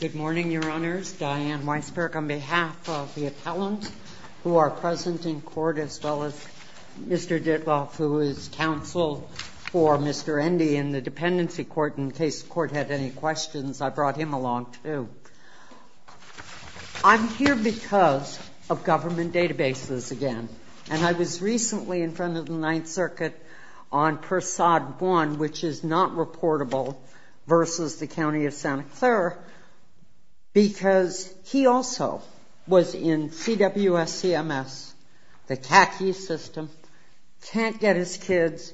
Good morning, Your Honors. Diane Weisberg on behalf of the appellant, who are present in court, as well as Mr. Ditloff, who is counsel for Mr. Endy in the Dependency Court. In case the Court had any questions, I brought him along too. I'm here because of government databases again, and I was recently in front of 9th Circuit on Persaud 1, which is not reportable, versus the County of Santa Clara, because he also was in CWS-CMS, the CACI system, can't get his kids.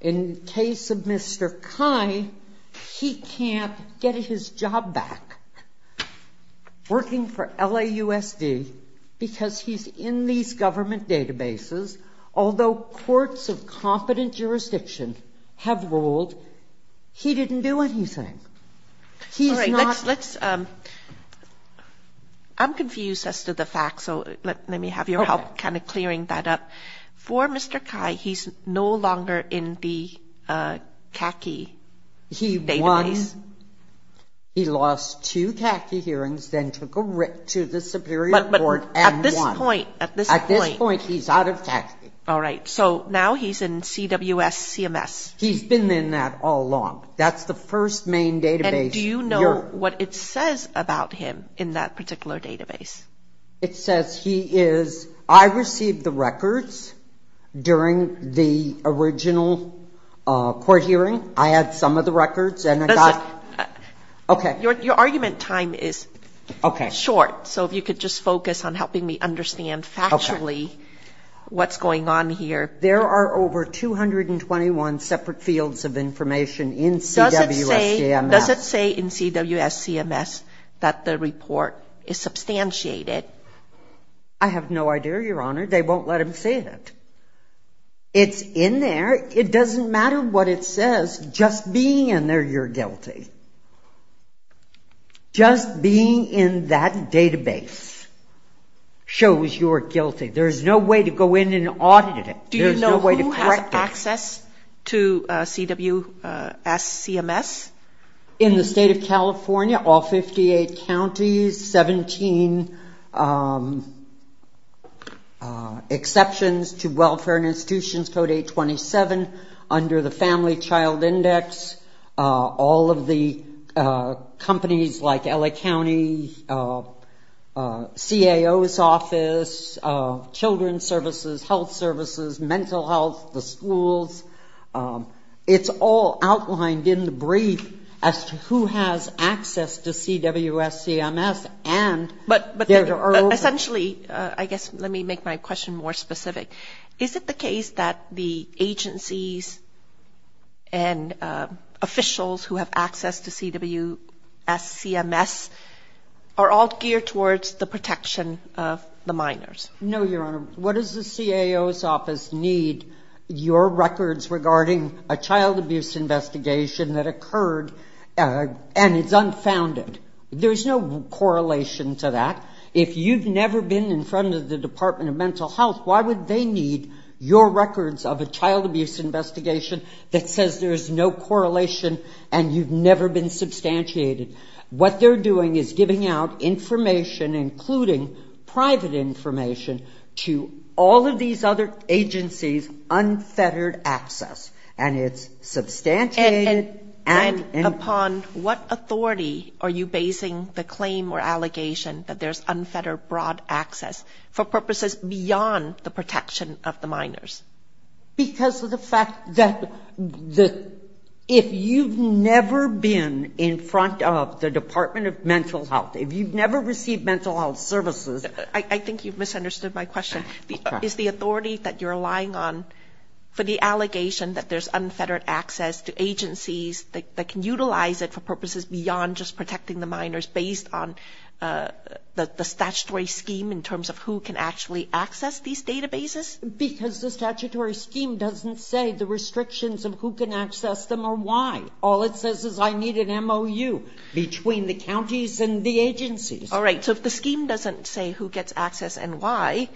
In case of Mr. Khai, he can't get his job back working for LAUSD because he's in these government databases, although courts of competent jurisdiction have ruled he didn't do anything. I'm confused as to the facts, so let me have your help kind of clearing that up. For Mr. Khai, he's no longer in the CACI database. He lost two CACI hearings, then took a writ to the Superior Court and won. At this point, he's out of CACI. All right, so now he's in CWS-CMS. He's been in that all along. That's the first main database. And do you know what it says about him in that particular database? It says he is, I received the records during the original court hearing. I had some of the records. Your argument time is short, so if you could just focus on helping me understand factually what's going on here. There are over 221 separate fields of information in CWS-CMS. Does it say in CWS-CMS that the report is substantiated? I have no idea, Your Honor. They won't let him see it. It's in there. It doesn't matter what it says. Just being in there, you're guilty. Just being in that database shows you're guilty. There's no way to go in and audit it. There's no way to correct it. Do you know who has access to CWS-CMS? In the State of California, all 58 counties, 17 exceptions to Welfare and Under the Family Child Index, all of the companies like L.A. County, CAO's office, children's services, health services, mental health, the schools, it's all outlined in the brief as to who has access to CWS-CMS and there are I guess let me make my question more specific. Is it the case that the agencies and officials who have access to CWS-CMS are all geared towards the protection of the minors? No, Your Honor. What does the CAO's office need? Your records regarding a child abuse investigation that occurred and it's unfounded. There's no correlation to that. If you've never been in front of the Department of Mental Health, why would they need your records of a child abuse investigation that says there's no correlation and you've never been substantiated? What they're doing is giving out information, including private information, to all of these other agencies, unfettered access. And it's substantiated and And upon what authority are you basing the claim or allegation that there's unfettered broad access for purposes beyond the protection of the minors? Because of the fact that if you've never been in front of the Department of Mental Health, if you've never received mental health services I think you've misunderstood my question. Is the authority that you're relying on for the allegation that there's unfettered access to agencies that can utilize it for purposes beyond just protecting the minors based on the statutory scheme in terms of who can actually access these databases? Because the statutory scheme doesn't say the restrictions of who can access them or why. All it says is I need an MOU between the counties and the agencies. All right. So if the scheme doesn't say who gets access and why,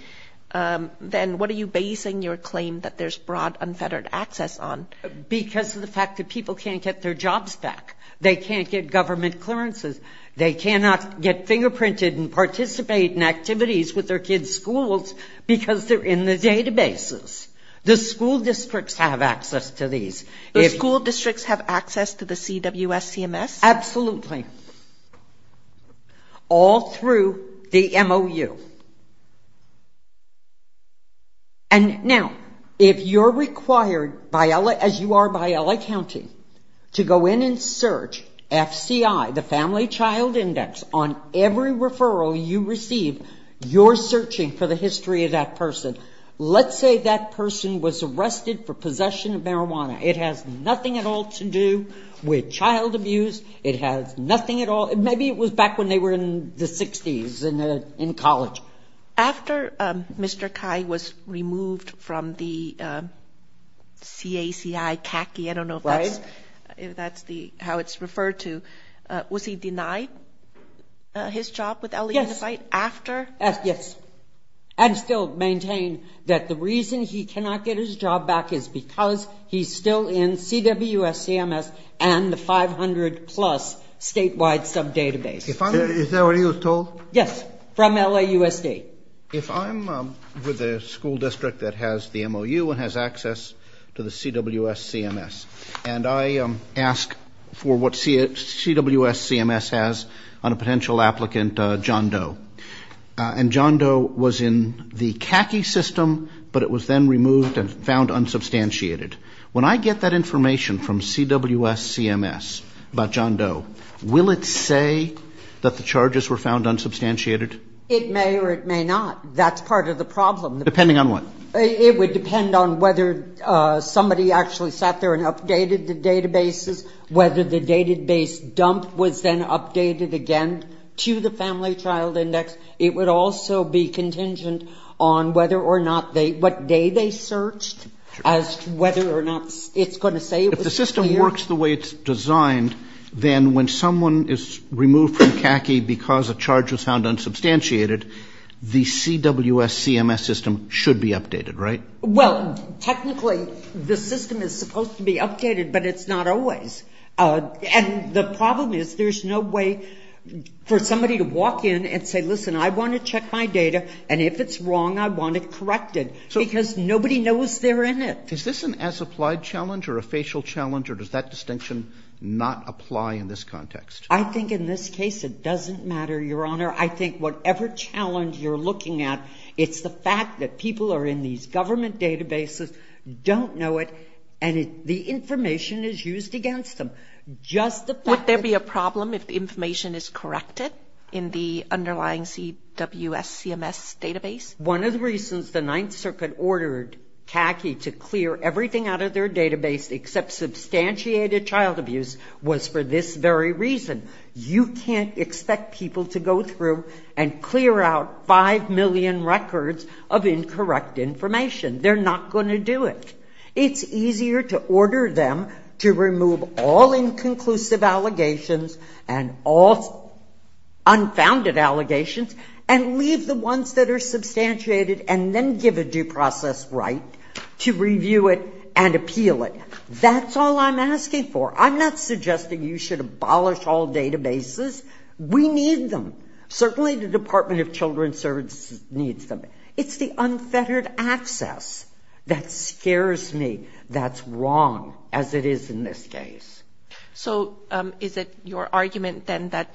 then what are you basing your claim that there's broad unfettered access on? Because of the fact that people can't get their jobs back. They can't get government clearances. They cannot get fingerprinted and participate in activities with their kids' schools because they're in the databases. The school districts have access to these. The school districts have access to the CWSCMS? Absolutely. All through the MOU. And now, if you're required, as you are by LA County, to go in and search FCI, the Family Child Index, on every referral you receive, you're searching for the history of that person. Let's say that person was arrested for possession of marijuana. It has nothing at all to do with child abuse. It has nothing at all. Maybe it was back when they were in the 60s in college. After Mr. Cai was removed from the CACI, CACI, I don't know if that's how it's referred to, was he denied his job with LA Unified after? Yes. And still maintain that the reason he cannot get his job back is because he's still in CWSCMS and the 500-plus statewide sub-database. Is that what he was told? Yes. From LAUSD. If I'm with a school district that has the MOU and has access to the CWSCMS, and I ask for what CWSCMS has on a potential applicant, John Doe, and John Doe is not there, when I get that information from CWSCMS about John Doe, will it say that the charges were found unsubstantiated? It may or it may not. That's part of the problem. Depending on what? It would depend on whether somebody actually sat there and updated the databases, whether the database dump was then updated again to the Family Child Index. It would also be contingent on whether or not they, what day they were not, it's going to say it was here. If the system works the way it's designed, then when someone is removed from CACI because a charge was found unsubstantiated, the CWSCMS system should be updated, right? Well, technically, the system is supposed to be updated, but it's not always. And the problem is there's no way for somebody to walk in and say, listen, I want to check my data, and if it's wrong, I want it corrected, because nobody knows they're in it. Is this an as-applied challenge or a facial challenge, or does that distinction not apply in this context? I think in this case, it doesn't matter, Your Honor. I think whatever challenge you're looking at, it's the fact that people are in these government databases, don't know it, and the information is used against them. Just the fact that they're in the database. Would there be a problem if the information is corrected in the underlying CWSCMS database? One of the reasons the Ninth Circuit ordered CACI to clear everything out of their database except substantiated child abuse was for this very reason. You can't expect people to go through and clear out five million records of incorrect information. They're not going to do it. It's easier to order them to remove all inconclusive allegations and all unfounded allegations and leave the ones that are substantiated and then give a due process right to review it and appeal it. That's all I'm asking for. I'm not suggesting you should abolish all databases. We need them. Certainly the Department of Children's Services needs them. It's the unfettered access that scares me that's wrong, as it is in this case. So is it your argument then that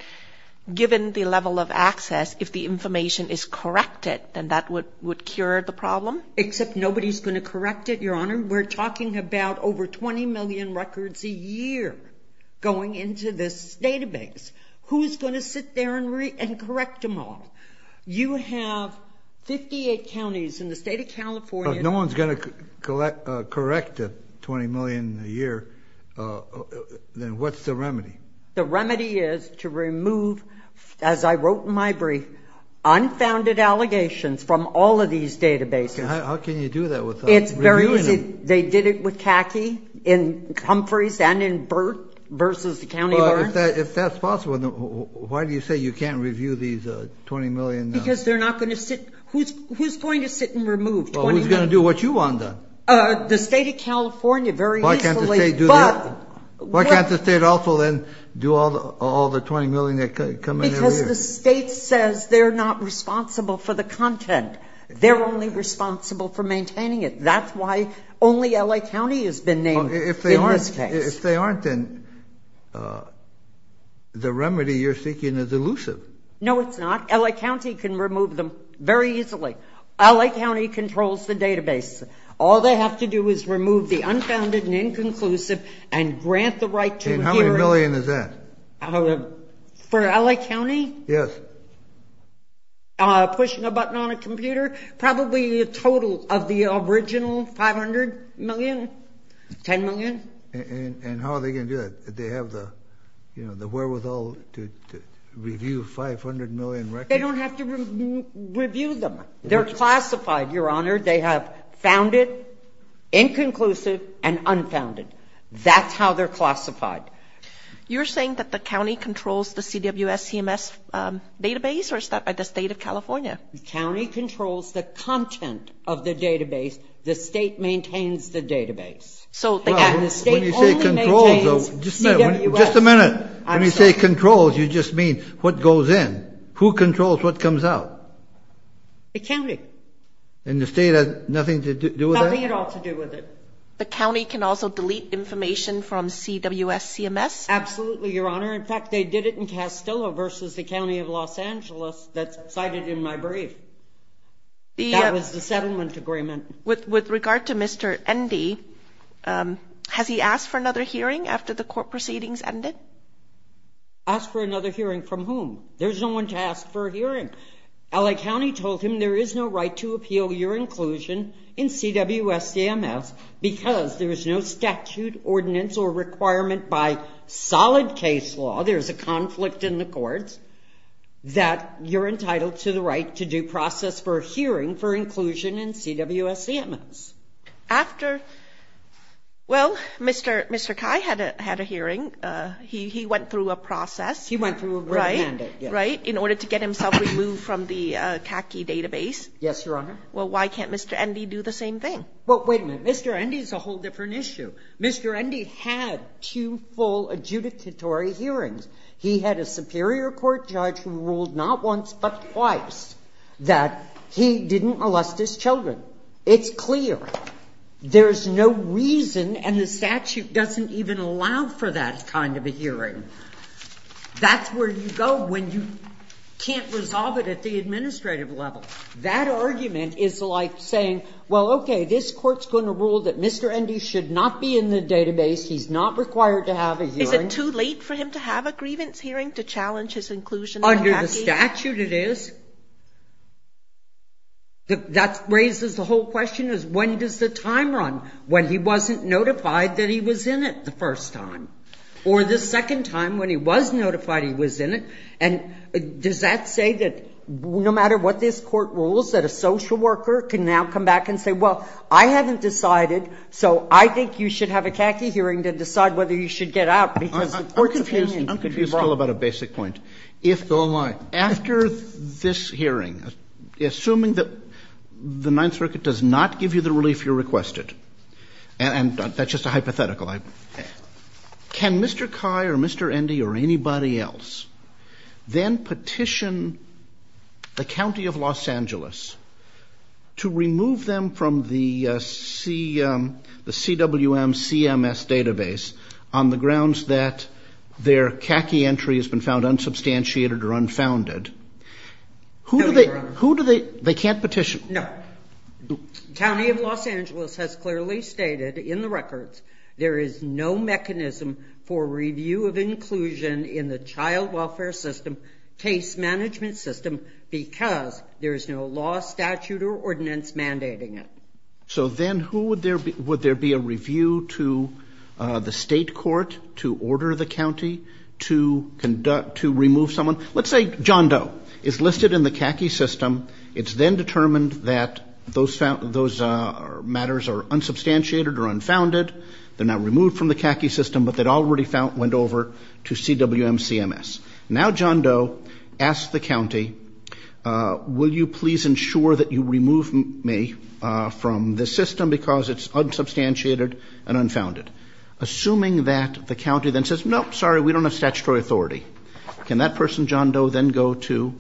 given the level of access, if the information is corrected, then that would cure the problem? Except nobody's going to correct it, Your Honor. We're talking about over 20 million records a year going into this database. Who's going to sit there and correct them all? You have 58 counties in the state of California. If no one's going to correct the 20 million a year, then what's the remedy? The remedy is to remove, as I wrote in my brief, unfounded allegations from all of these databases. How can you do that without reviewing them? It's very easy. They did it with CACI in Humphreys and in Burt versus the County of Orange. If that's possible, then why do you say you can't review these 20 million? Because they're not going to sit. Who's going to sit and remove 20 million? Well, who's going to do what you want to? The state of California very easily. Why can't the state also then do all the 20 million that come in every year? Because the state says they're not responsible for the content. They're only responsible for maintaining it. That's why only L.A. County has been named in this case. If they aren't, then the remedy you're seeking is elusive. No, it's not. L.A. County can remove them very easily. L.A. County controls the database. All they have to do is remove the unfounded and inconclusive and grant the right to hear it. And how many million is that? For L.A. County? Yes. Pushing a button on a computer? Probably a total of the original 500 million, 10 million. And how are they going to do that? Do they have the wherewithal to review 500 million records? They don't have to review them. They're classified, Your Honor. They have founded, inconclusive, and unfounded. That's how they're classified. You're saying that the county controls the CWS CMS database, or is that by the state of California? The county controls the content of the database. The state maintains the database. When you say controls, you just mean what goes in. Who controls what comes out? The county. And the state has nothing to do with that? Nothing at all to do with it. The county can also delete information from CWS CMS? Absolutely, Your Honor. In fact, they did it in Castillo versus the county of Los Angeles that's cited in my brief. That was the settlement agreement. With regard to Mr. Endy, has he asked for another hearing after the court proceedings ended? Asked for another hearing from whom? There's no one to ask for a hearing. L.A. County told him there is no right to appeal your inclusion in CWS CMS because there is no statute, ordinance, or requirement by solid case law, there's a conflict in the courts, that you're entitled to the right to do process for a hearing for inclusion in CWS CMS. After, well, Mr. Kai had a hearing. He went through a process. He went through a written mandate, yes. In order to get himself removed from the CACI database? Yes, Your Honor. Well, why can't Mr. Endy do the same thing? Well, wait a minute. Mr. Endy is a whole different issue. Mr. Endy had two full adjudicatory hearings. He had a superior court judge who ruled not once, but twice, that he didn't molest his children. It's clear. There's no reason, and the statute doesn't even allow for that kind of a hearing. That's where you go when you can't resolve it at the administrative level. That argument is like saying, well, okay, this court's going to rule that Mr. Endy should not be in the database. He's not required to have a hearing. Is it too late for him to have a grievance hearing to challenge his inclusion in the CACI? Under the statute, it is. That raises the whole question is, when does the time run? When he wasn't notified that he was in it the first time. Or the second time when he was notified he was in it, and does that say that no matter what this court rules, that a social worker can now come back and say, well, I haven't decided, so I think you should have a CACI hearing to decide whether you should get out because the court's opinion could be wrong. I'm confused still about a basic point. Go on. After this hearing, assuming that the Ninth Circuit does not give you the relief you requested, and that's just a hypothetical, can Mr. Kai or Mr. Endy or anybody else then petition the County of Los Angeles to remove them from the CWM CMS database on the grounds that their CACI entry has been found unsubstantiated or unfounded? Who do they? They can't petition. No. The County of Los Angeles has clearly stated in the records there is no mechanism for review of inclusion in the child welfare system case management system because there is no law, statute, or ordinance mandating it. So then would there be a review to the state court to order the county to remove someone? Let's say John Doe is listed in the CACI system. It's then determined that those matters are unsubstantiated or unfounded. They're not removed from the CACI system, but they'd already went over to CWM CMS. Now John Doe asks the county, will you please ensure that you remove me from the system because it's unsubstantiated and unfounded? Assuming that the county then says, nope, sorry, we don't have statutory authority, can that person, John Doe, then go to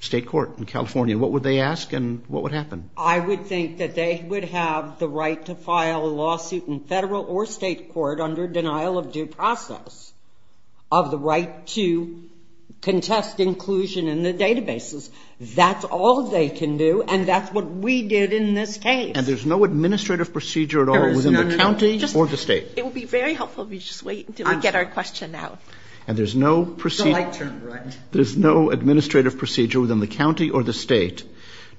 state court in California? What would they ask and what would happen? I would think that they would have the right to file a lawsuit in federal or state court under denial of due process of the right to contest inclusion in the databases. That's all they can do, and that's what we did in this case. And there's no administrative procedure at all within the county or the state? It would be very helpful if you just wait until we get our question out. The light turned red. There's no administrative procedure within the county or the state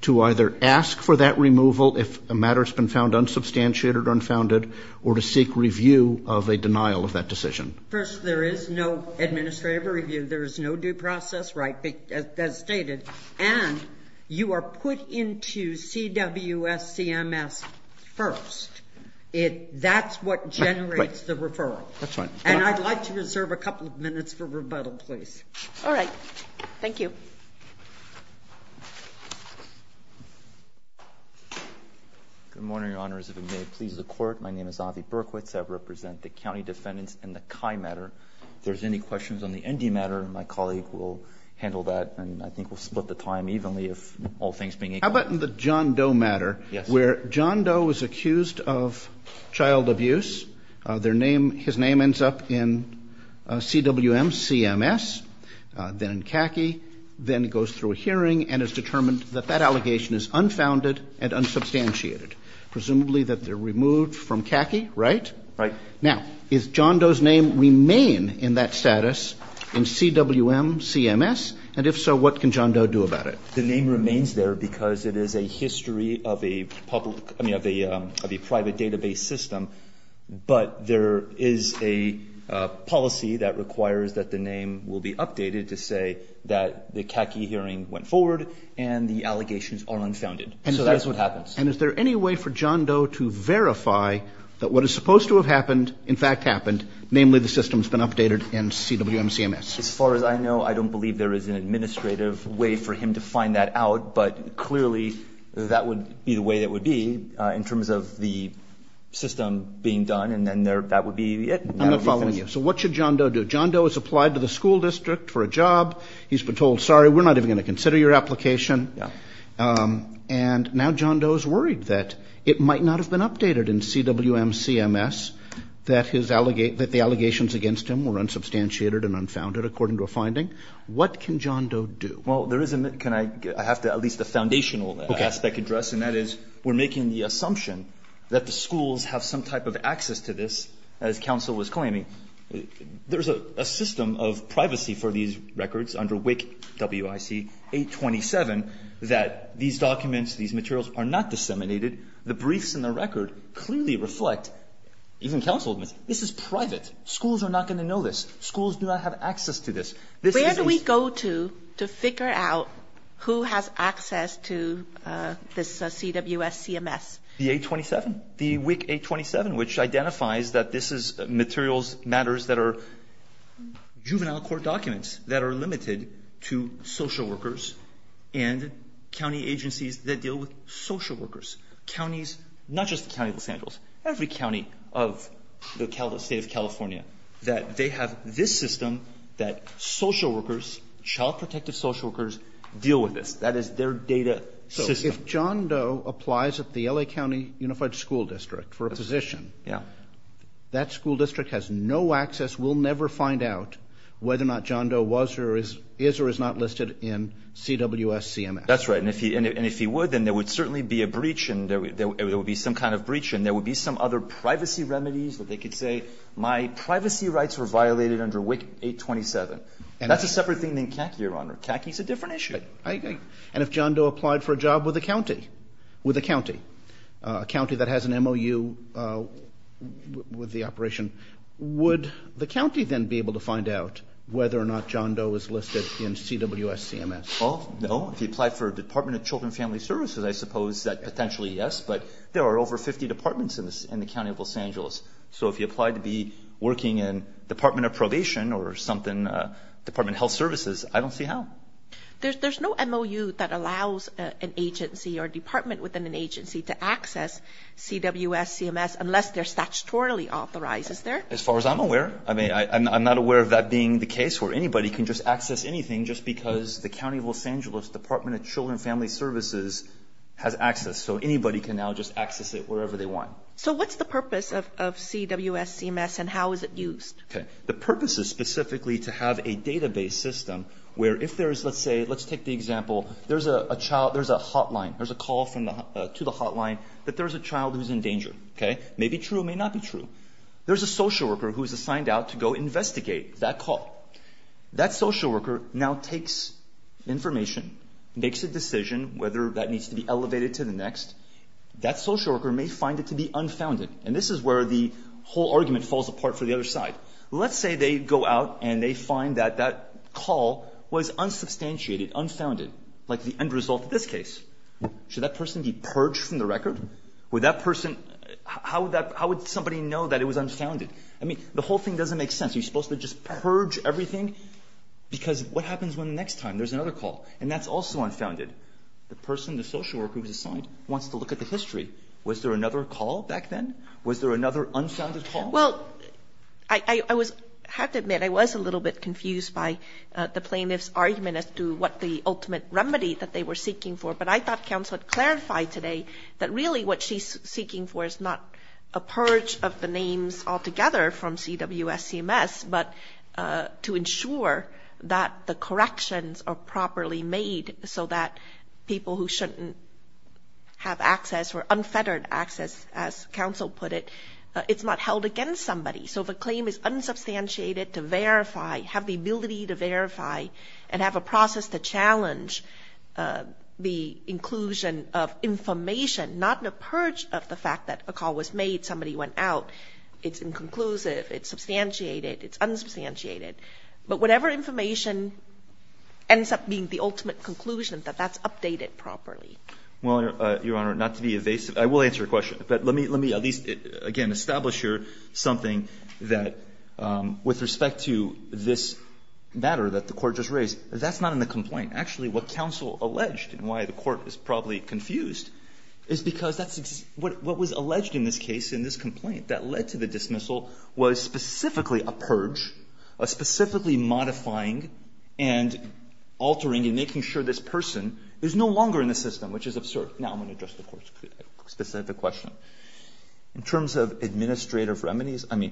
to either ask for that removal if a matter has been found unsubstantiated or unfounded or to seek review of a denial of that decision? First, there is no administrative review. There is no due process right as stated, and you are put into CWS CMS first. That's what generates the referral. That's fine. And I'd like to reserve a couple of minutes for rebuttal, please. All right. Thank you. Good morning, Your Honors. If it may please the Court, my name is Avi Berkowitz. I represent the county defendants in the CHI matter. If there's any questions on the ND matter, my colleague will handle that, and I think we'll split the time evenly if all things being equal. How about the John Doe matter? Yes. Where John Doe was accused of child abuse. His name ends up in CWM CMS, then in CACI, then goes through a hearing and is determined that that allegation is unfounded and unsubstantiated, presumably that they're removed from CACI, right? Right. Now, does John Doe's name remain in that status in CWM CMS? And if so, what can John Doe do about it? The name remains there because it is a history of a private database system, but there is a policy that requires that the name will be updated to say that the CACI hearing went forward and the allegations are unfounded. So that's what happens. And is there any way for John Doe to verify that what is supposed to have happened in fact happened, namely the system's been updated in CWM CMS? As far as I know, I don't believe there is an administrative way for him to find that out, but clearly that would be the way it would be in terms of the system being done, and then that would be it. I'm not following you. So what should John Doe do? John Doe is applied to the school district for a job. He's been told, sorry, we're not even going to consider your application. And now John Doe is worried that it might not have been updated in CWM CMS, that the allegations against him were unsubstantiated and unfounded, according to a finding. What can John Doe do? Well, there is a, can I, I have to at least a foundational aspect address, and that is we're making the assumption that the schools have some type of access to this, as counsel was claiming. There's a system of privacy for these records under WIC, W-I-C 827, that these documents, these materials are not disseminated. The briefs in the record clearly reflect, even counsel admits, this is private. Schools are not going to know this. Schools do not have access to this. Where do we go to to figure out who has access to this CWS CMS? The 827, the WIC 827, which identifies that this is materials, matters that are juvenile court documents that are limited to social workers and county agencies that deal with social workers. Counties, not just the county of Los Angeles, every county of the state of California, that they have this system that social workers, child protective social workers, deal with this. That is their data system. So if John Doe applies at the L.A. County Unified School District for a position, that school district has no access, we'll never find out whether or not John Doe was or is or is not listed in CWS CMS. That's right. And if he would, then there would certainly be a breach and there would be some kind of breach and there would be some other privacy remedies that they could say, my privacy rights were violated under WIC 827. That's a separate thing than CAC, Your Honor. CAC is a different issue. And if John Doe applied for a job with a county, with a county, a county that has an MOU with the operation, would the county then be able to find out whether or not John Doe is listed in CWS CMS? Well, no. If he applied for a Department of Children and Family Services, I suppose that potentially yes, but there are over 50 departments in the county of Los Angeles. So if he applied to be working in Department of Probation or something, Department of Health Services, I don't see how. There's no MOU that allows an agency or department within an agency to access CWS CMS unless they're statutorily authorized, is there? As far as I'm aware. I mean, I'm not aware of that being the case where anybody can just access anything just because the county of Los Angeles Department of Children and Family Services has access. So anybody can now just access it wherever they want. So what's the purpose of CWS CMS and how is it used? Okay. The purpose is specifically to have a database system where if there is, let's say, let's take the example, there's a child, there's a hotline, there's a call to the hotline that there's a child who's in danger. May be true, may not be true. There's a social worker who is assigned out to go investigate that call. That social worker now takes information, makes a decision whether that needs to be elevated to the next. That social worker may find it to be unfounded. And this is where the whole argument falls apart for the other side. Let's say they go out and they find that that call was unsubstantiated, unfounded, like the end result of this case. Should that person be purged from the record? Would that person, how would somebody know that it was unfounded? I mean, the whole thing doesn't make sense. Are you supposed to just purge everything? Because what happens when the next time there's another call and that's also unfounded? The person, the social worker who was assigned wants to look at the history. Was there another call back then? Was there another unfounded call? Well, I have to admit I was a little bit confused by the plaintiff's argument as to what the ultimate remedy that they were seeking for. But I thought counsel had clarified today that really what she's seeking for is not a purge of the names altogether from CWSCMS, but to ensure that the corrections are properly made so that people who shouldn't have access or unfettered access, as counsel put it, it's not held against somebody. So if a claim is unsubstantiated to verify, have the ability to verify, and have a process to challenge the inclusion of information, not a purge of the fact that a call was made, somebody went out, it's inconclusive, it's substantiated, it's unsubstantiated, but whatever information ends up being the ultimate conclusion that that's updated properly. Well, Your Honor, not to be evasive, I will answer your question. But let me at least, again, establish here something that with respect to this matter that the Court just raised, that's not in the complaint. Actually, what counsel alleged and why the Court is probably confused is because that's what was alleged in this case in this complaint that led to the dismissal was specifically a purge, a specifically modifying and altering and making sure this person is no longer in the system, which is absurd. Now I'm going to address the Court's specific question. In terms of administrative remedies, I mean,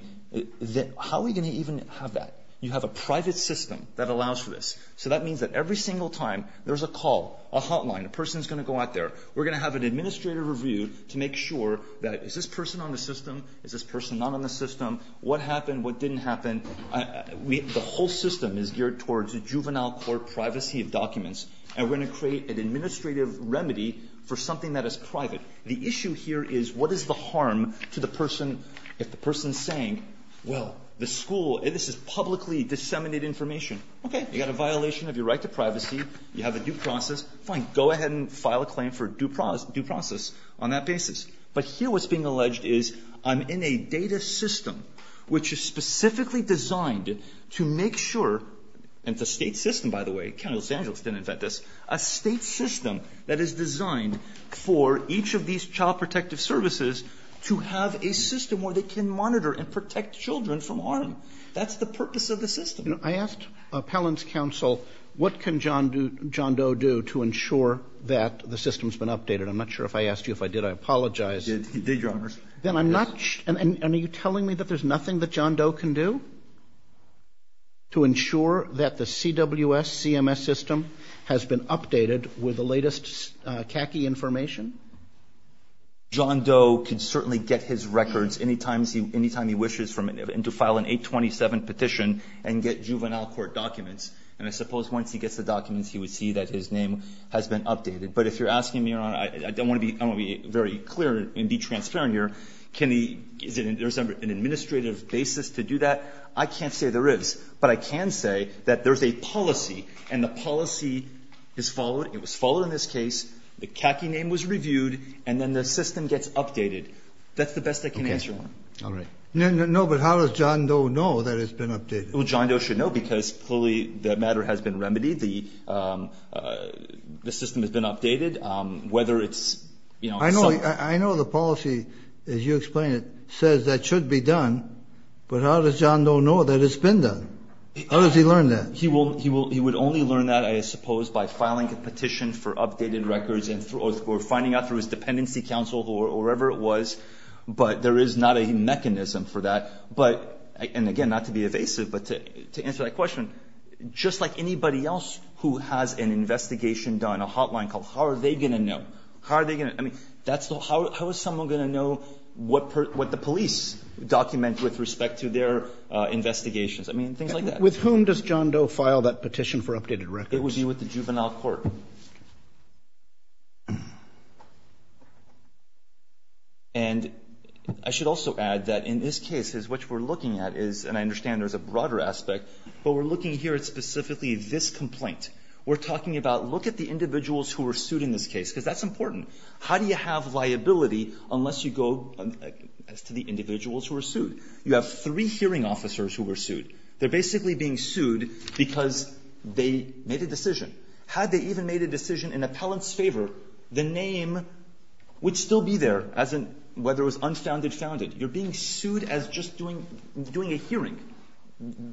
how are we going to even have that? You have a private system that allows for this. So that means that every single time there's a call, a hotline, a person is going to go out there, we're going to have an administrative review to make sure that is this person on the system, is this person not on the system, what happened, what didn't happen. The whole system is geared towards a juvenile court privacy of documents, and we're going to create an administrative remedy for something that is private. The issue here is what is the harm to the person if the person is saying, well, the school, this is publicly disseminated information. Okay, you've got a violation of your right to privacy. You have a due process. Fine, go ahead and file a claim for due process on that basis. But here what's being alleged is I'm in a data system which is specifically designed to make sure, and it's a state system, by the way. The county of Los Angeles didn't invent this. A state system that is designed for each of these child protective services to have a system where they can monitor and protect children from harm. That's the purpose of the system. I asked Appellant's counsel what can John Doe do to ensure that the system has been updated. I'm not sure if I asked you if I did. I apologize. He did, Your Honor. Then I'm not sure. And are you telling me that there's nothing that John Doe can do to ensure that the CWS, CMS system, has been updated with the latest CACI information? John Doe can certainly get his records any time he wishes to file an 827 petition and get juvenile court documents. And I suppose once he gets the documents, he would see that his name has been updated. But if you're asking me, Your Honor, I don't want to be very clear and be transparent here. Is there an administrative basis to do that? I can't say there is. But I can say that there's a policy, and the policy is followed. It was followed in this case. The CACI name was reviewed, and then the system gets updated. That's the best I can answer on. Okay. All right. No, but how does John Doe know that it's been updated? Well, John Doe should know because, clearly, that matter has been remedied. The system has been updated, whether it's, you know. I know the policy, as you explain it, says that should be done. But how does John Doe know that it's been done? How does he learn that? He would only learn that, I suppose, by filing a petition for updated records or finding out through his dependency counsel or whoever it was. But there is not a mechanism for that. And, again, not to be evasive, but to answer that question, just like anybody else who has an investigation done, a hotline called, how are they going to know? How are they going to? I mean, how is someone going to know what the police document with respect to their investigations? I mean, things like that. With whom does John Doe file that petition for updated records? It would be with the juvenile court. And I should also add that in this case is what we're looking at is, and I understand there's a broader aspect, but we're looking here at specifically this complaint. We're talking about look at the individuals who were sued in this case, because that's important. How do you have liability unless you go as to the individuals who were sued? You have three hearing officers who were sued. They're basically being sued because they made a decision. Had they even made a decision in appellant's favor, the name would still be there, whether it was unfounded, founded. You're being sued as just doing a hearing.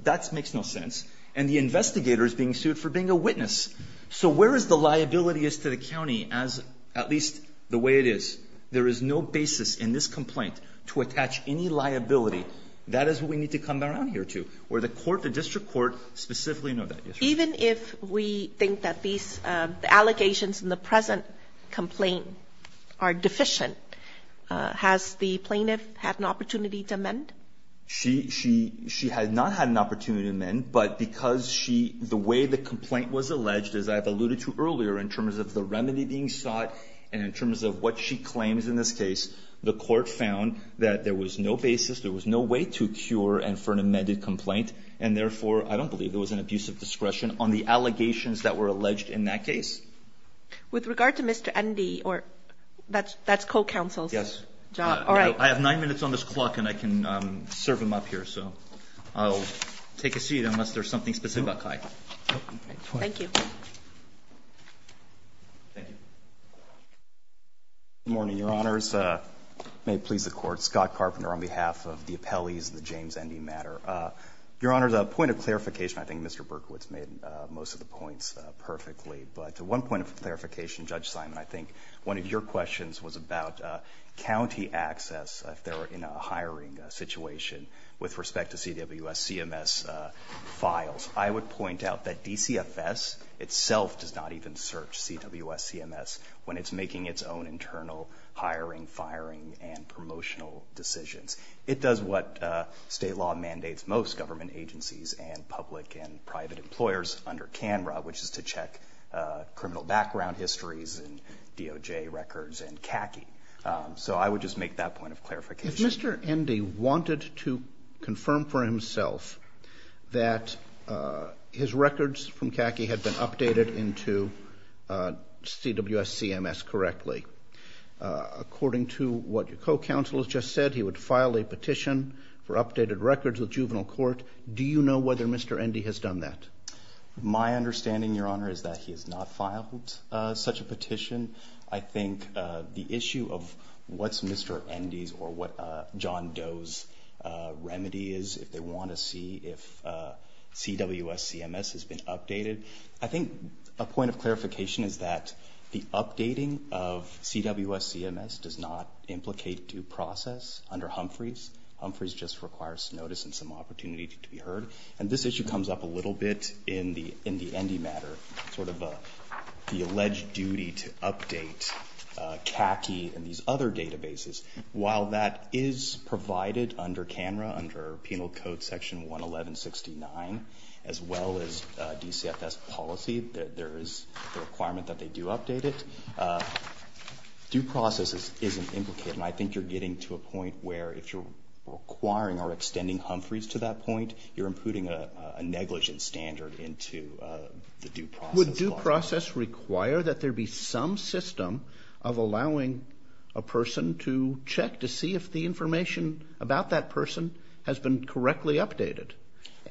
That makes no sense. And the investigator is being sued for being a witness. So where is the liability as to the county as at least the way it is? There is no basis in this complaint to attach any liability. That is what we need to come around here to. Or the court, the district court, specifically know that. Yes, Your Honor. Even if we think that these allegations in the present complaint are deficient, has the plaintiff had an opportunity to amend? She has not had an opportunity to amend, but because she, the way the complaint was alleged, as I've alluded to earlier in terms of the remedy being sought and in terms of what she claims in this case, the court found that there was no way to cure and for an amended complaint, and therefore, I don't believe there was an abuse of discretion on the allegations that were alleged in that case. With regard to Mr. Endy, or that's co-counsel's job. Yes. All right. I have nine minutes on this clock, and I can serve him up here. So I'll take a seat unless there's something specific about Kai. Thank you. Good morning, Your Honors. May it please the Court. Scott Carpenter on behalf of the appellees in the James Endy matter. Your Honors, a point of clarification. I think Mr. Berkowitz made most of the points perfectly, but one point of clarification, Judge Simon. I think one of your questions was about county access if they were in a hiring situation with respect to CWS CMS files. I would point out that DCFS itself does not even search CWS CMS when it's making its own internal hiring, firing, and promotional decisions. It does what state law mandates most government agencies and public and private employers under CANRA, which is to check criminal background histories and DOJ records and CACI. So I would just make that point of clarification. If Mr. Endy wanted to confirm for himself that his records from CACI had been updated correctly, according to what your co-counsel has just said, he would file a petition for updated records with juvenile court. Do you know whether Mr. Endy has done that? My understanding, Your Honor, is that he has not filed such a petition. I think the issue of what's Mr. Endy's or what John Doe's remedy is, if they want to see if CWS CMS has been updated. I think a point of clarification is that the updating of CWS CMS does not implicate due process under Humphreys. Humphreys just requires notice and some opportunity to be heard. And this issue comes up a little bit in the Endy matter, sort of the alleged duty to update CACI and these other databases. While that is provided under CANRA, under Penal Code Section 11169, as well as DCFS policy, there is a requirement that they do update it. Due process isn't implicated, and I think you're getting to a point where if you're requiring or extending Humphreys to that point, you're imputing a negligence standard into the due process. Would due process require that there be some system of allowing a person to check to see if the information about that person has been correctly updated?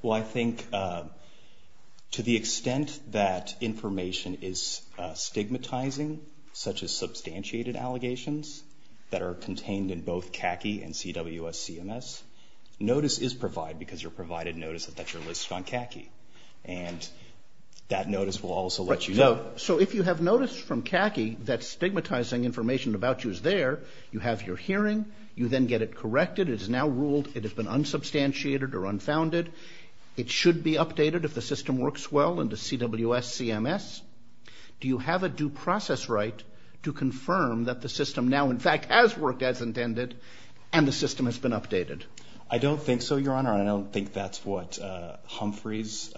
Well, I think to the extent that information is stigmatizing, such as substantiated allegations that are contained in both CACI and CWS CMS, notice is provided because you're provided notice that you're listed on CACI. And that notice will also let you know. So if you have notice from CACI that stigmatizing information about you is there, you have your hearing, you then get it corrected, it is now ruled it has been unsubstantiated or unfounded, it should be updated if the system works well into CWS CMS, do you have a due process right to confirm that the system now in fact has worked as intended and the system has been updated? I don't think so, Your Honor. I don't think that's what Humphreys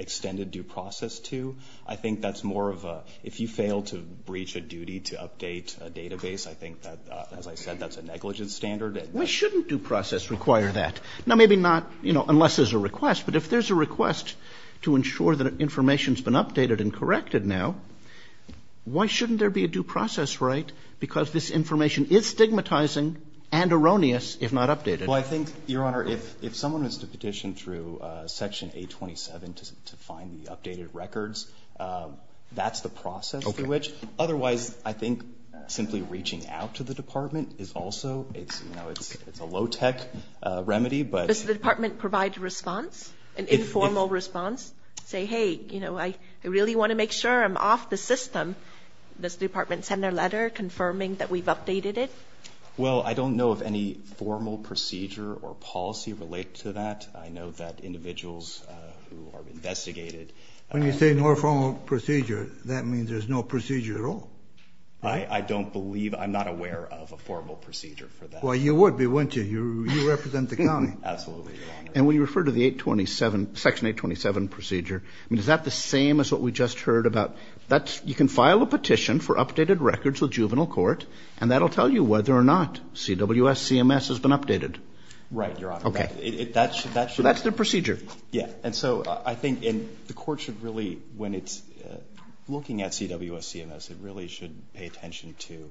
extended due process to. I think that's more of a, if you fail to breach a duty to update a database, I think that, as I said, that's a negligence standard. Why shouldn't due process require that? Now, maybe not, you know, unless there's a request. But if there's a request to ensure that information has been updated and corrected now, why shouldn't there be a due process right? Because this information is stigmatizing and erroneous if not updated. Well, I think, Your Honor, if someone is to petition through Section 827 to find the updated records, that's the process through which. Otherwise, I think simply reaching out to the Department is also, you know, it's a low-tech remedy, but. Does the Department provide a response, an informal response? Say, hey, you know, I really want to make sure I'm off the system. Does the Department send a letter confirming that we've updated it? Well, I don't know of any formal procedure or policy related to that. I know that individuals who are investigated. When you say no formal procedure, that means there's no procedure at all. I don't believe, I'm not aware of a formal procedure for that. Well, you would be, wouldn't you? You represent the county. Absolutely, Your Honor. And when you refer to the 827, Section 827 procedure, I mean, is that the same as what we just heard about? That's, you can file a petition for updated records with juvenile court, and that will tell you whether or not CWS-CMS has been updated. Right, Your Honor. Okay. That should be. So that's the procedure. Yeah. And so I think the court should really, when it's looking at CWS-CMS, it really should pay attention to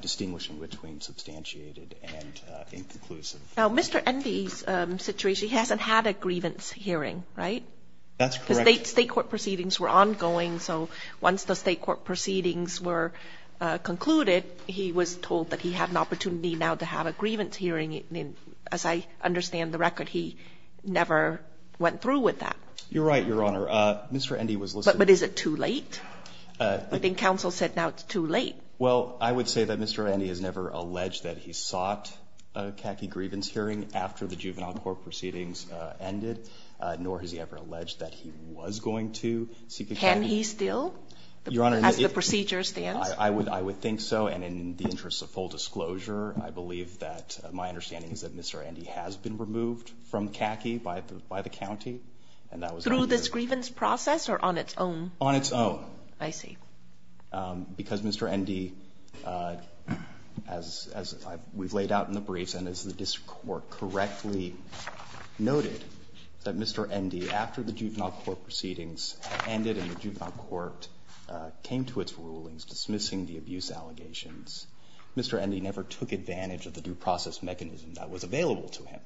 distinguishing between substantiated and inconclusive. Now, Mr. Endi's situation, he hasn't had a grievance hearing, right? That's correct. His State court proceedings were ongoing, so once the State court proceedings were concluded, he was told that he had an opportunity now to have a grievance hearing, and as I understand the record, he never went through with that. You're right, Your Honor. Mr. Endi was listening. But is it too late? I think counsel said now it's too late. Well, I would say that Mr. Endi has never alleged that he sought a khaki grievance hearing after the juvenile court proceedings ended, nor has he ever alleged that he was going to seek a khaki. Can he still? Your Honor. As the procedure stands? I would think so, and in the interest of full disclosure, I believe that my understanding is that Mr. Endi has been removed from khaki by the county, and that was earlier. Through this grievance process or on its own? On its own. I see. Because Mr. Endi, as we've laid out in the briefs and as the district court correctly noted, that Mr. Endi, after the juvenile court proceedings ended and the juvenile court came to its rulings dismissing the abuse allegations, Mr. Endi never took advantage of the due process mechanism that was available to him.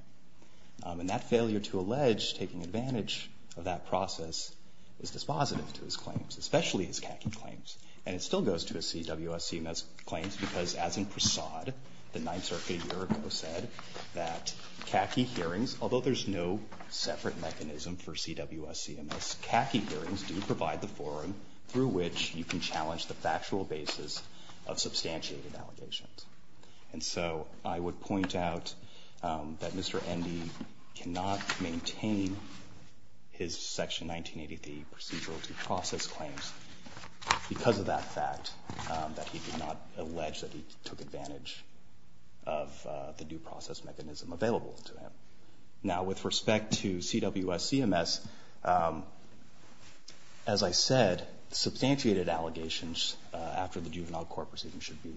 And that failure to allege taking advantage of that process is dispositive to his claims, especially his khaki claims. And it still goes to his CWSCMS claims because, as in Prasad, the Ninth Circuit a year ago said that khaki hearings, although there's no separate mechanism for CWSCMS, khaki hearings do provide the forum through which you can challenge the factual basis of substantiated allegations. And so I would point out that Mr. Endi cannot maintain his Section 1983 procedural due process claims because of that fact that he did not allege that he took advantage of the due process mechanism available to him. Now, with respect to CWSCMS, as I said, substantiated allegations after the juvenile court proceedings should be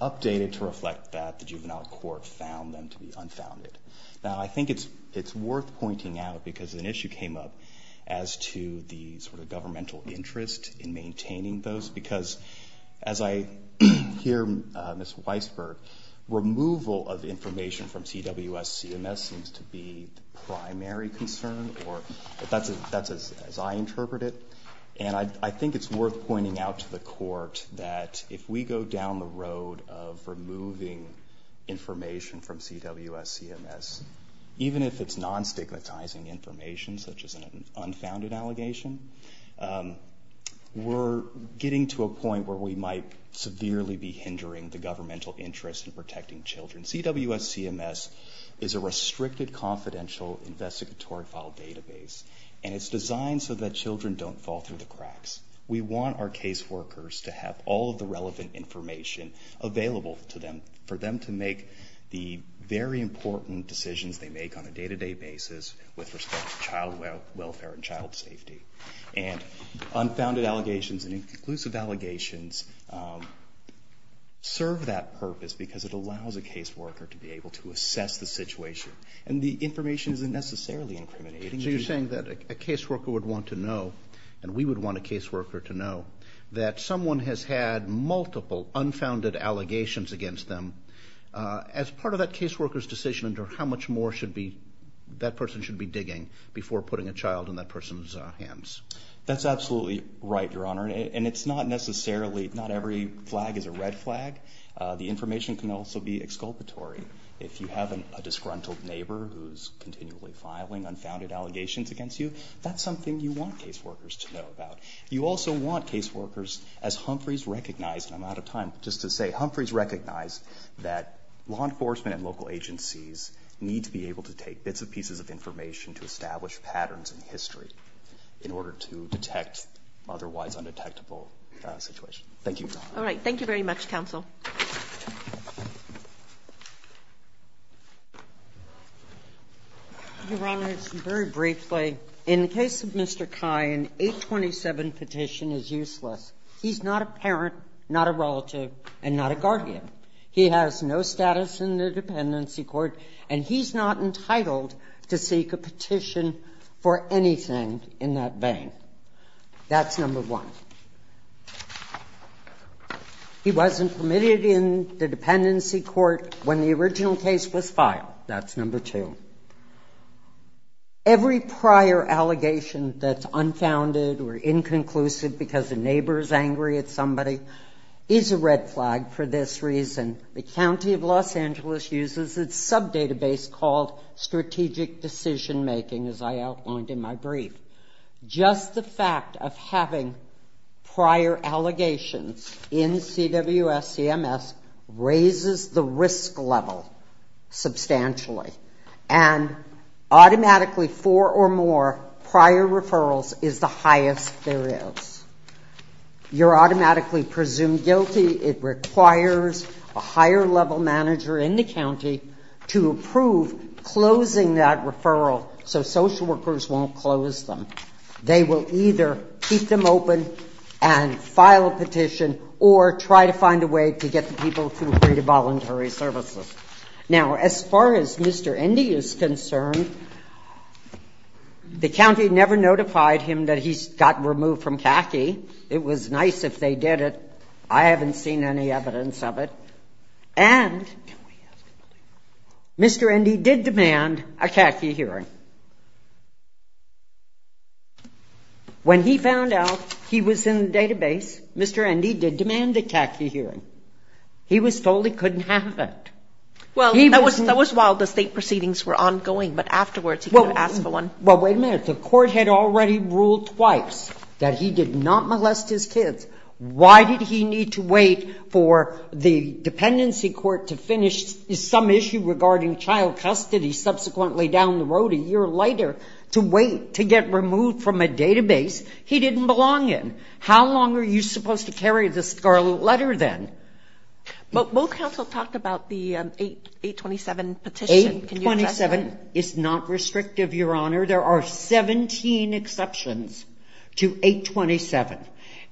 updated to reflect that the juvenile court found them to be unfounded. Now, I think it's worth pointing out, because an issue came up as to the sort of governmental interest in maintaining those, because as I hear Ms. Weisberg, removal of information from CWSCMS seems to be the primary concern, or that's as I interpret it. And I think it's worth pointing out to the court that if we go down the road of CWSCMS, even if it's non-stigmatizing information, such as an unfounded allegation, we're getting to a point where we might severely be hindering the governmental interest in protecting children. CWSCMS is a restricted confidential investigatory file database, and it's designed so that children don't fall through the cracks. We want our caseworkers to have all of the relevant information available to them to make the very important decisions they make on a day-to-day basis with respect to child welfare and child safety. And unfounded allegations and inclusive allegations serve that purpose because it allows a caseworker to be able to assess the situation. And the information isn't necessarily incriminating. Roberts. So you're saying that a caseworker would want to know, and we would want a caseworker to know, that someone has had multiple unfounded allegations against them. As part of that caseworker's decision, how much more should that person be digging before putting a child in that person's hands? That's absolutely right, Your Honor. And it's not necessarily, not every flag is a red flag. The information can also be exculpatory. If you have a disgruntled neighbor who's continually filing unfounded allegations against you, that's something you want caseworkers to know about. You also want caseworkers, as Humphreys recognized, and I'm out of time, just to say, Humphreys recognized that law enforcement and local agencies need to be able to take bits and pieces of information to establish patterns in history in order to detect otherwise undetectable situations. Thank you, Your Honor. Thank you very much, counsel. Your Honor, very briefly, in the case of Mr. Kine, 827 petition is useless. He's not a parent, not a relative, and not a guardian. He has no status in the dependency court, and he's not entitled to seek a petition for anything in that vein. That's number one. He wasn't permitted in the dependency court when the original case was filed. That's number two. Every prior allegation that's unfounded or inconclusive because the neighbor is angry at somebody is a red flag for this reason. The county of Los Angeles uses a sub-database called strategic decision-making, as I outlined in my brief. Just the fact of having prior allegations in CWSCMS raises the risk level substantially, and automatically four or more prior referrals is the highest there is. You're automatically presumed guilty. It requires a higher-level manager in the county to approve closing that referral so social workers won't close them. They will either keep them open and file a petition or try to find a way to get the people to agree to voluntary services. Now, as far as Mr. Indy is concerned, the county never notified him that he got removed from CACI. It was nice if they did it. I haven't seen any evidence of it. And Mr. Indy did demand a CACI hearing. When he found out he was in the database, Mr. Indy did demand a CACI hearing. He was told he couldn't have it. Well, that was while the state proceedings were ongoing, but afterwards he could have asked for one. Well, wait a minute. The court had already ruled twice that he did not molest his kids. Why did he need to wait for the dependency court to finish some issue regarding child custody subsequently down the road a year later to wait to get removed from a database he didn't belong in? How long are you supposed to carry the scarlet letter then? But both counsel talked about the 827 petition. 827 is not restrictive, Your Honor. There are 17 exceptions to 827.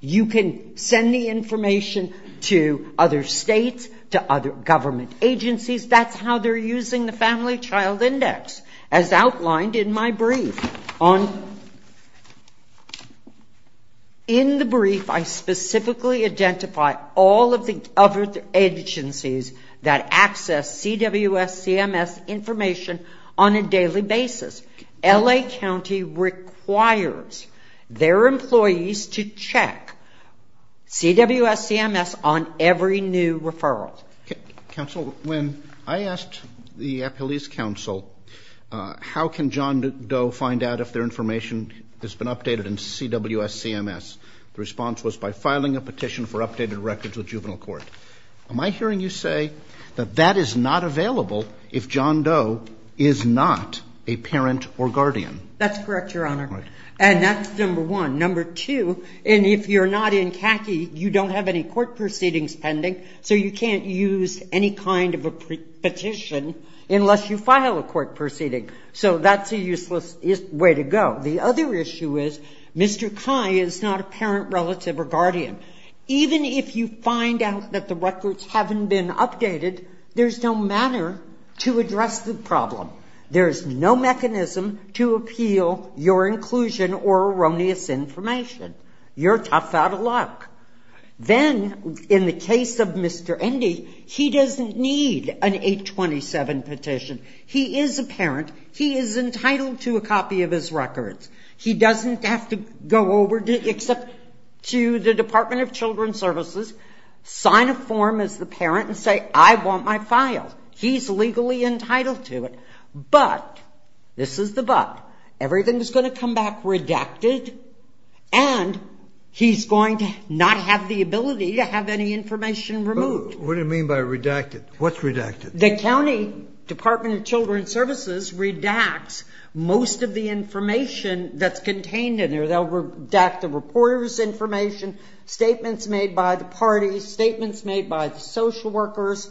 You can send the information to other states, to other government agencies. That's how they're using the Family Child Index, as outlined in my brief. In the brief, I specifically identify all of the other agencies that access CWS CMS information on a daily basis. L.A. County requires their employees to check CWS CMS on every new referral. Counsel, when I asked the police counsel how can John Doe find out if their information has been updated in CWS CMS, the response was by filing a petition for updated records with juvenile court. Am I hearing you say that that is not available if John Doe is not a parent or guardian? That's correct, Your Honor. Right. And that's number one. Number two, and if you're not in CACI, you don't have any court proceedings pending, so you can't use any kind of a petition unless you file a court proceeding. So that's a useless way to go. The other issue is Mr. Cai is not a parent, relative or guardian. Even if you find out that the records haven't been updated, there's no manner to address the problem. There's no mechanism to appeal your inclusion or erroneous information. You're tough out of luck. Then, in the case of Mr. Endy, he doesn't need an 827 petition. He is a parent. He is entitled to a copy of his records. He doesn't have to go over except to the Department of Children's Services, sign a form as the parent, and say, I want my file. He's legally entitled to it. But, this is the but, everything is going to come back redacted, and he's going to not have the ability to have any information removed. What do you mean by redacted? What's redacted? The county Department of Children's Services redacts most of the information that's contained in there. They'll redact the reporter's information, statements made by the parties, statements made by the social workers.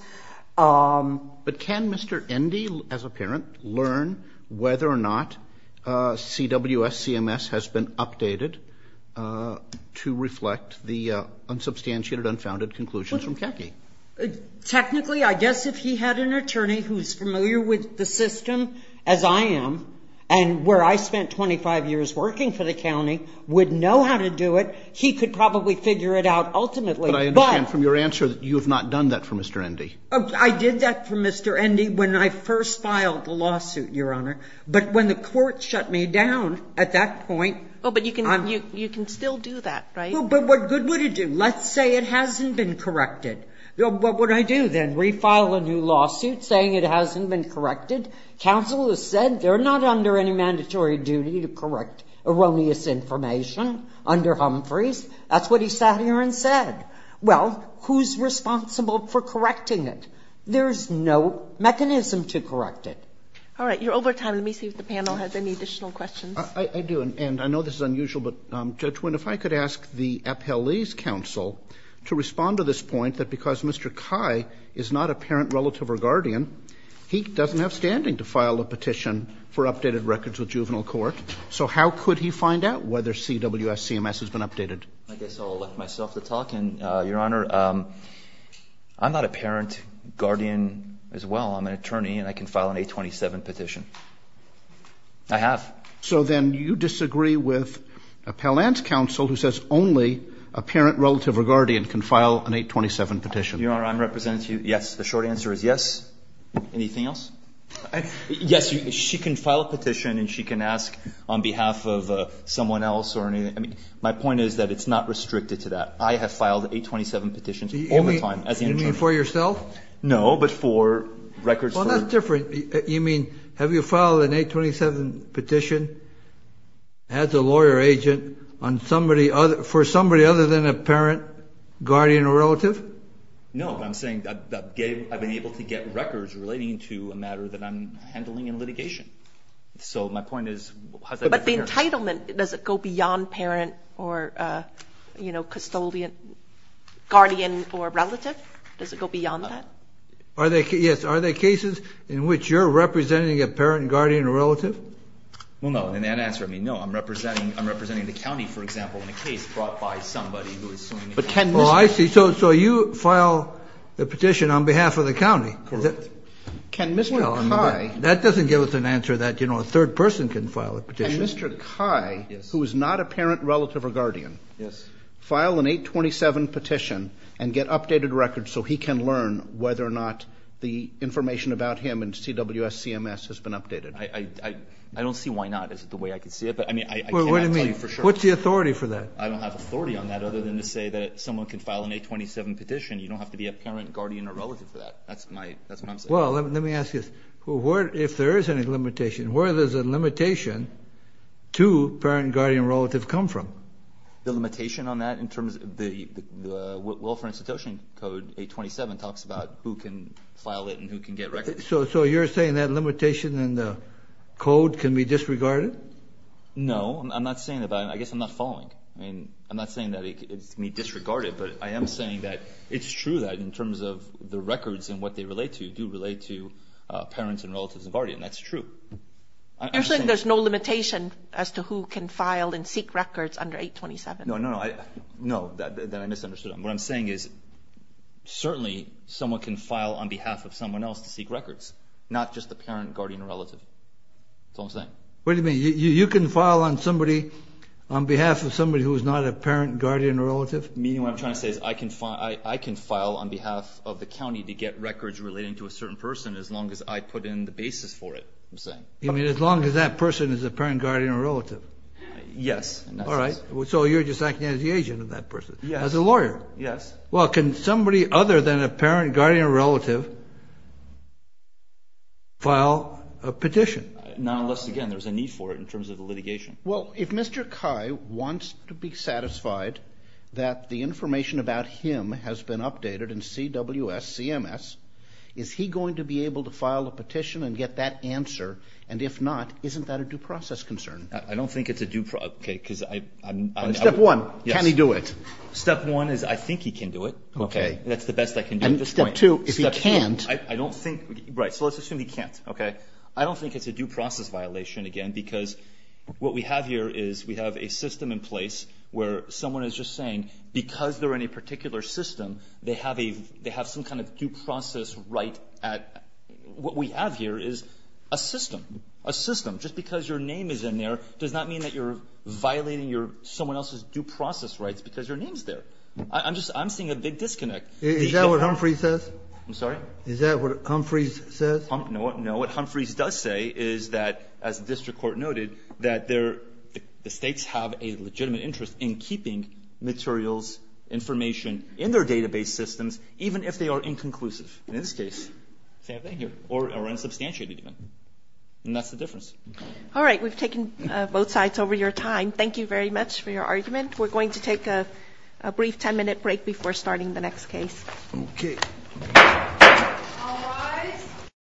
But can Mr. Endy, as a parent, learn whether or not CWS CMS has been updated to reflect the unsubstantiated, unfounded conclusions from Kecky? Technically, I guess if he had an attorney who's familiar with the system as I am, and where I spent 25 years working for the county, would know how to do it, he could probably figure it out ultimately. But I understand from your answer that you have not done that for Mr. Endy. I did that for Mr. Endy when I first filed the lawsuit, Your Honor. But when the court shut me down at that point. Oh, but you can still do that, right? But what good would it do? Let's say it hasn't been corrected. What would I do then? Refile a new lawsuit saying it hasn't been corrected? Counsel has said they're not under any mandatory duty to correct erroneous information under Humphreys. That's what he sat here and said. Well, who's responsible for correcting it? There's no mechanism to correct it. All right. You're over time. Let me see if the panel has any additional questions. I do. And I know this is unusual, but, Judge Wynn, if I could ask the appellee's counsel to respond to this point, that because Mr. Kai is not a parent, relative, or guardian, he doesn't have standing to file a petition for updated records with juvenile court. So how could he find out whether CWS CMS has been updated? I guess I'll elect myself to talk. And, Your Honor, I'm not a parent, guardian as well. I'm an attorney, and I can file an 827 petition. I have. So then you disagree with appellant's counsel who says only a parent, relative, or guardian can file an 827 petition. Your Honor, I'm representing to you, yes. The short answer is yes. Anything else? Yes. She can file a petition, and she can ask on behalf of someone else or anything. My point is that it's not restricted to that. I have filed 827 petitions all the time as an attorney. You mean for yourself? No, but for records. Well, that's different. You mean have you filed an 827 petition as a lawyer agent for somebody other than a parent, guardian, or relative? No. I'm saying I've been able to get records relating to a matter that I'm handling in litigation. So my point is how is that different here? But the entitlement, does it go beyond parent or, you know, custodian, guardian, or relative? Does it go beyond that? Yes. Are there cases in which you're representing a parent, guardian, or relative? Well, no. In that answer, I mean, no. I'm representing the county, for example, in a case brought by somebody who is suing the county. Oh, I see. So you file a petition on behalf of the county. Correct. Can Mr. Kai – That doesn't give us an answer that, you know, a third person can file a petition. Can Mr. Kai, who is not a parent, relative, or guardian, file an 827 petition and get updated records so he can learn whether or not the information about him and CWSCMS has been updated? I don't see why not. Is it the way I can see it? But, I mean, I cannot tell you for sure. Wait a minute. What's the authority for that? I don't have authority on that other than to say that someone can file an 827 petition. You don't have to be a parent, guardian, or relative for that. That's what I'm saying. Well, let me ask you this. If there is any limitation, where does the limitation to parent, guardian, or relative come from? The limitation on that in terms of the Welfare Institution Code 827 talks about who can file it and who can get records. So you're saying that limitation in the code can be disregarded? No. I'm not saying that. I guess I'm not following. I mean, I'm not saying that it can be disregarded, but I am saying that it's true that in terms of the records and what they relate to, do relate to parents and relatives and guardians. That's true. You're saying there's no limitation as to who can file and seek records under 827? No, no, no. No, that I misunderstood. What I'm saying is certainly someone can file on behalf of someone else to seek records, not just the parent, guardian, or relative. That's all I'm saying. Wait a minute. You can file on behalf of somebody who is not a parent, guardian, or relative? Meaning what I'm trying to say is I can file on behalf of the county to get records relating to a certain person as long as I put in the basis for it, I'm saying. You mean as long as that person is a parent, guardian, or relative? Yes. All right. So you're just acting as the agent of that person? Yes. As a lawyer? Yes. Well, can somebody other than a parent, guardian, or relative file a petition? Not unless, again, there's a need for it in terms of the litigation. Well, if Mr. Kai wants to be satisfied that the information about him has been updated in CWS, CMS, is he going to be able to file a petition and get that answer? And if not, isn't that a due process concern? I don't think it's a due process. Step one, can he do it? Step one is I think he can do it. Okay. That's the best I can do at this point. Step two, if he can't. Right. So let's assume he can't. Okay. I don't think it's a due process violation, again, because what we have here is we have a system in place where someone is just saying because they're in a particular system, they have some kind of due process right at what we have here is a system. A system. Just because your name is in there does not mean that you're violating someone else's due process rights because your name is there. I'm seeing a big disconnect. Is that what Humphrey says? I'm sorry? Is that what Humphrey says? No. What Humphrey does say is that, as the district court noted, that the states have a legitimate interest in keeping materials, information in their database systems, even if they are inconclusive in this case or unsubstantiated even. And that's the difference. All right. We've taken both sides over your time. Thank you very much for your argument. We're going to take a brief 10-minute break before starting the next case. Okay. All rise.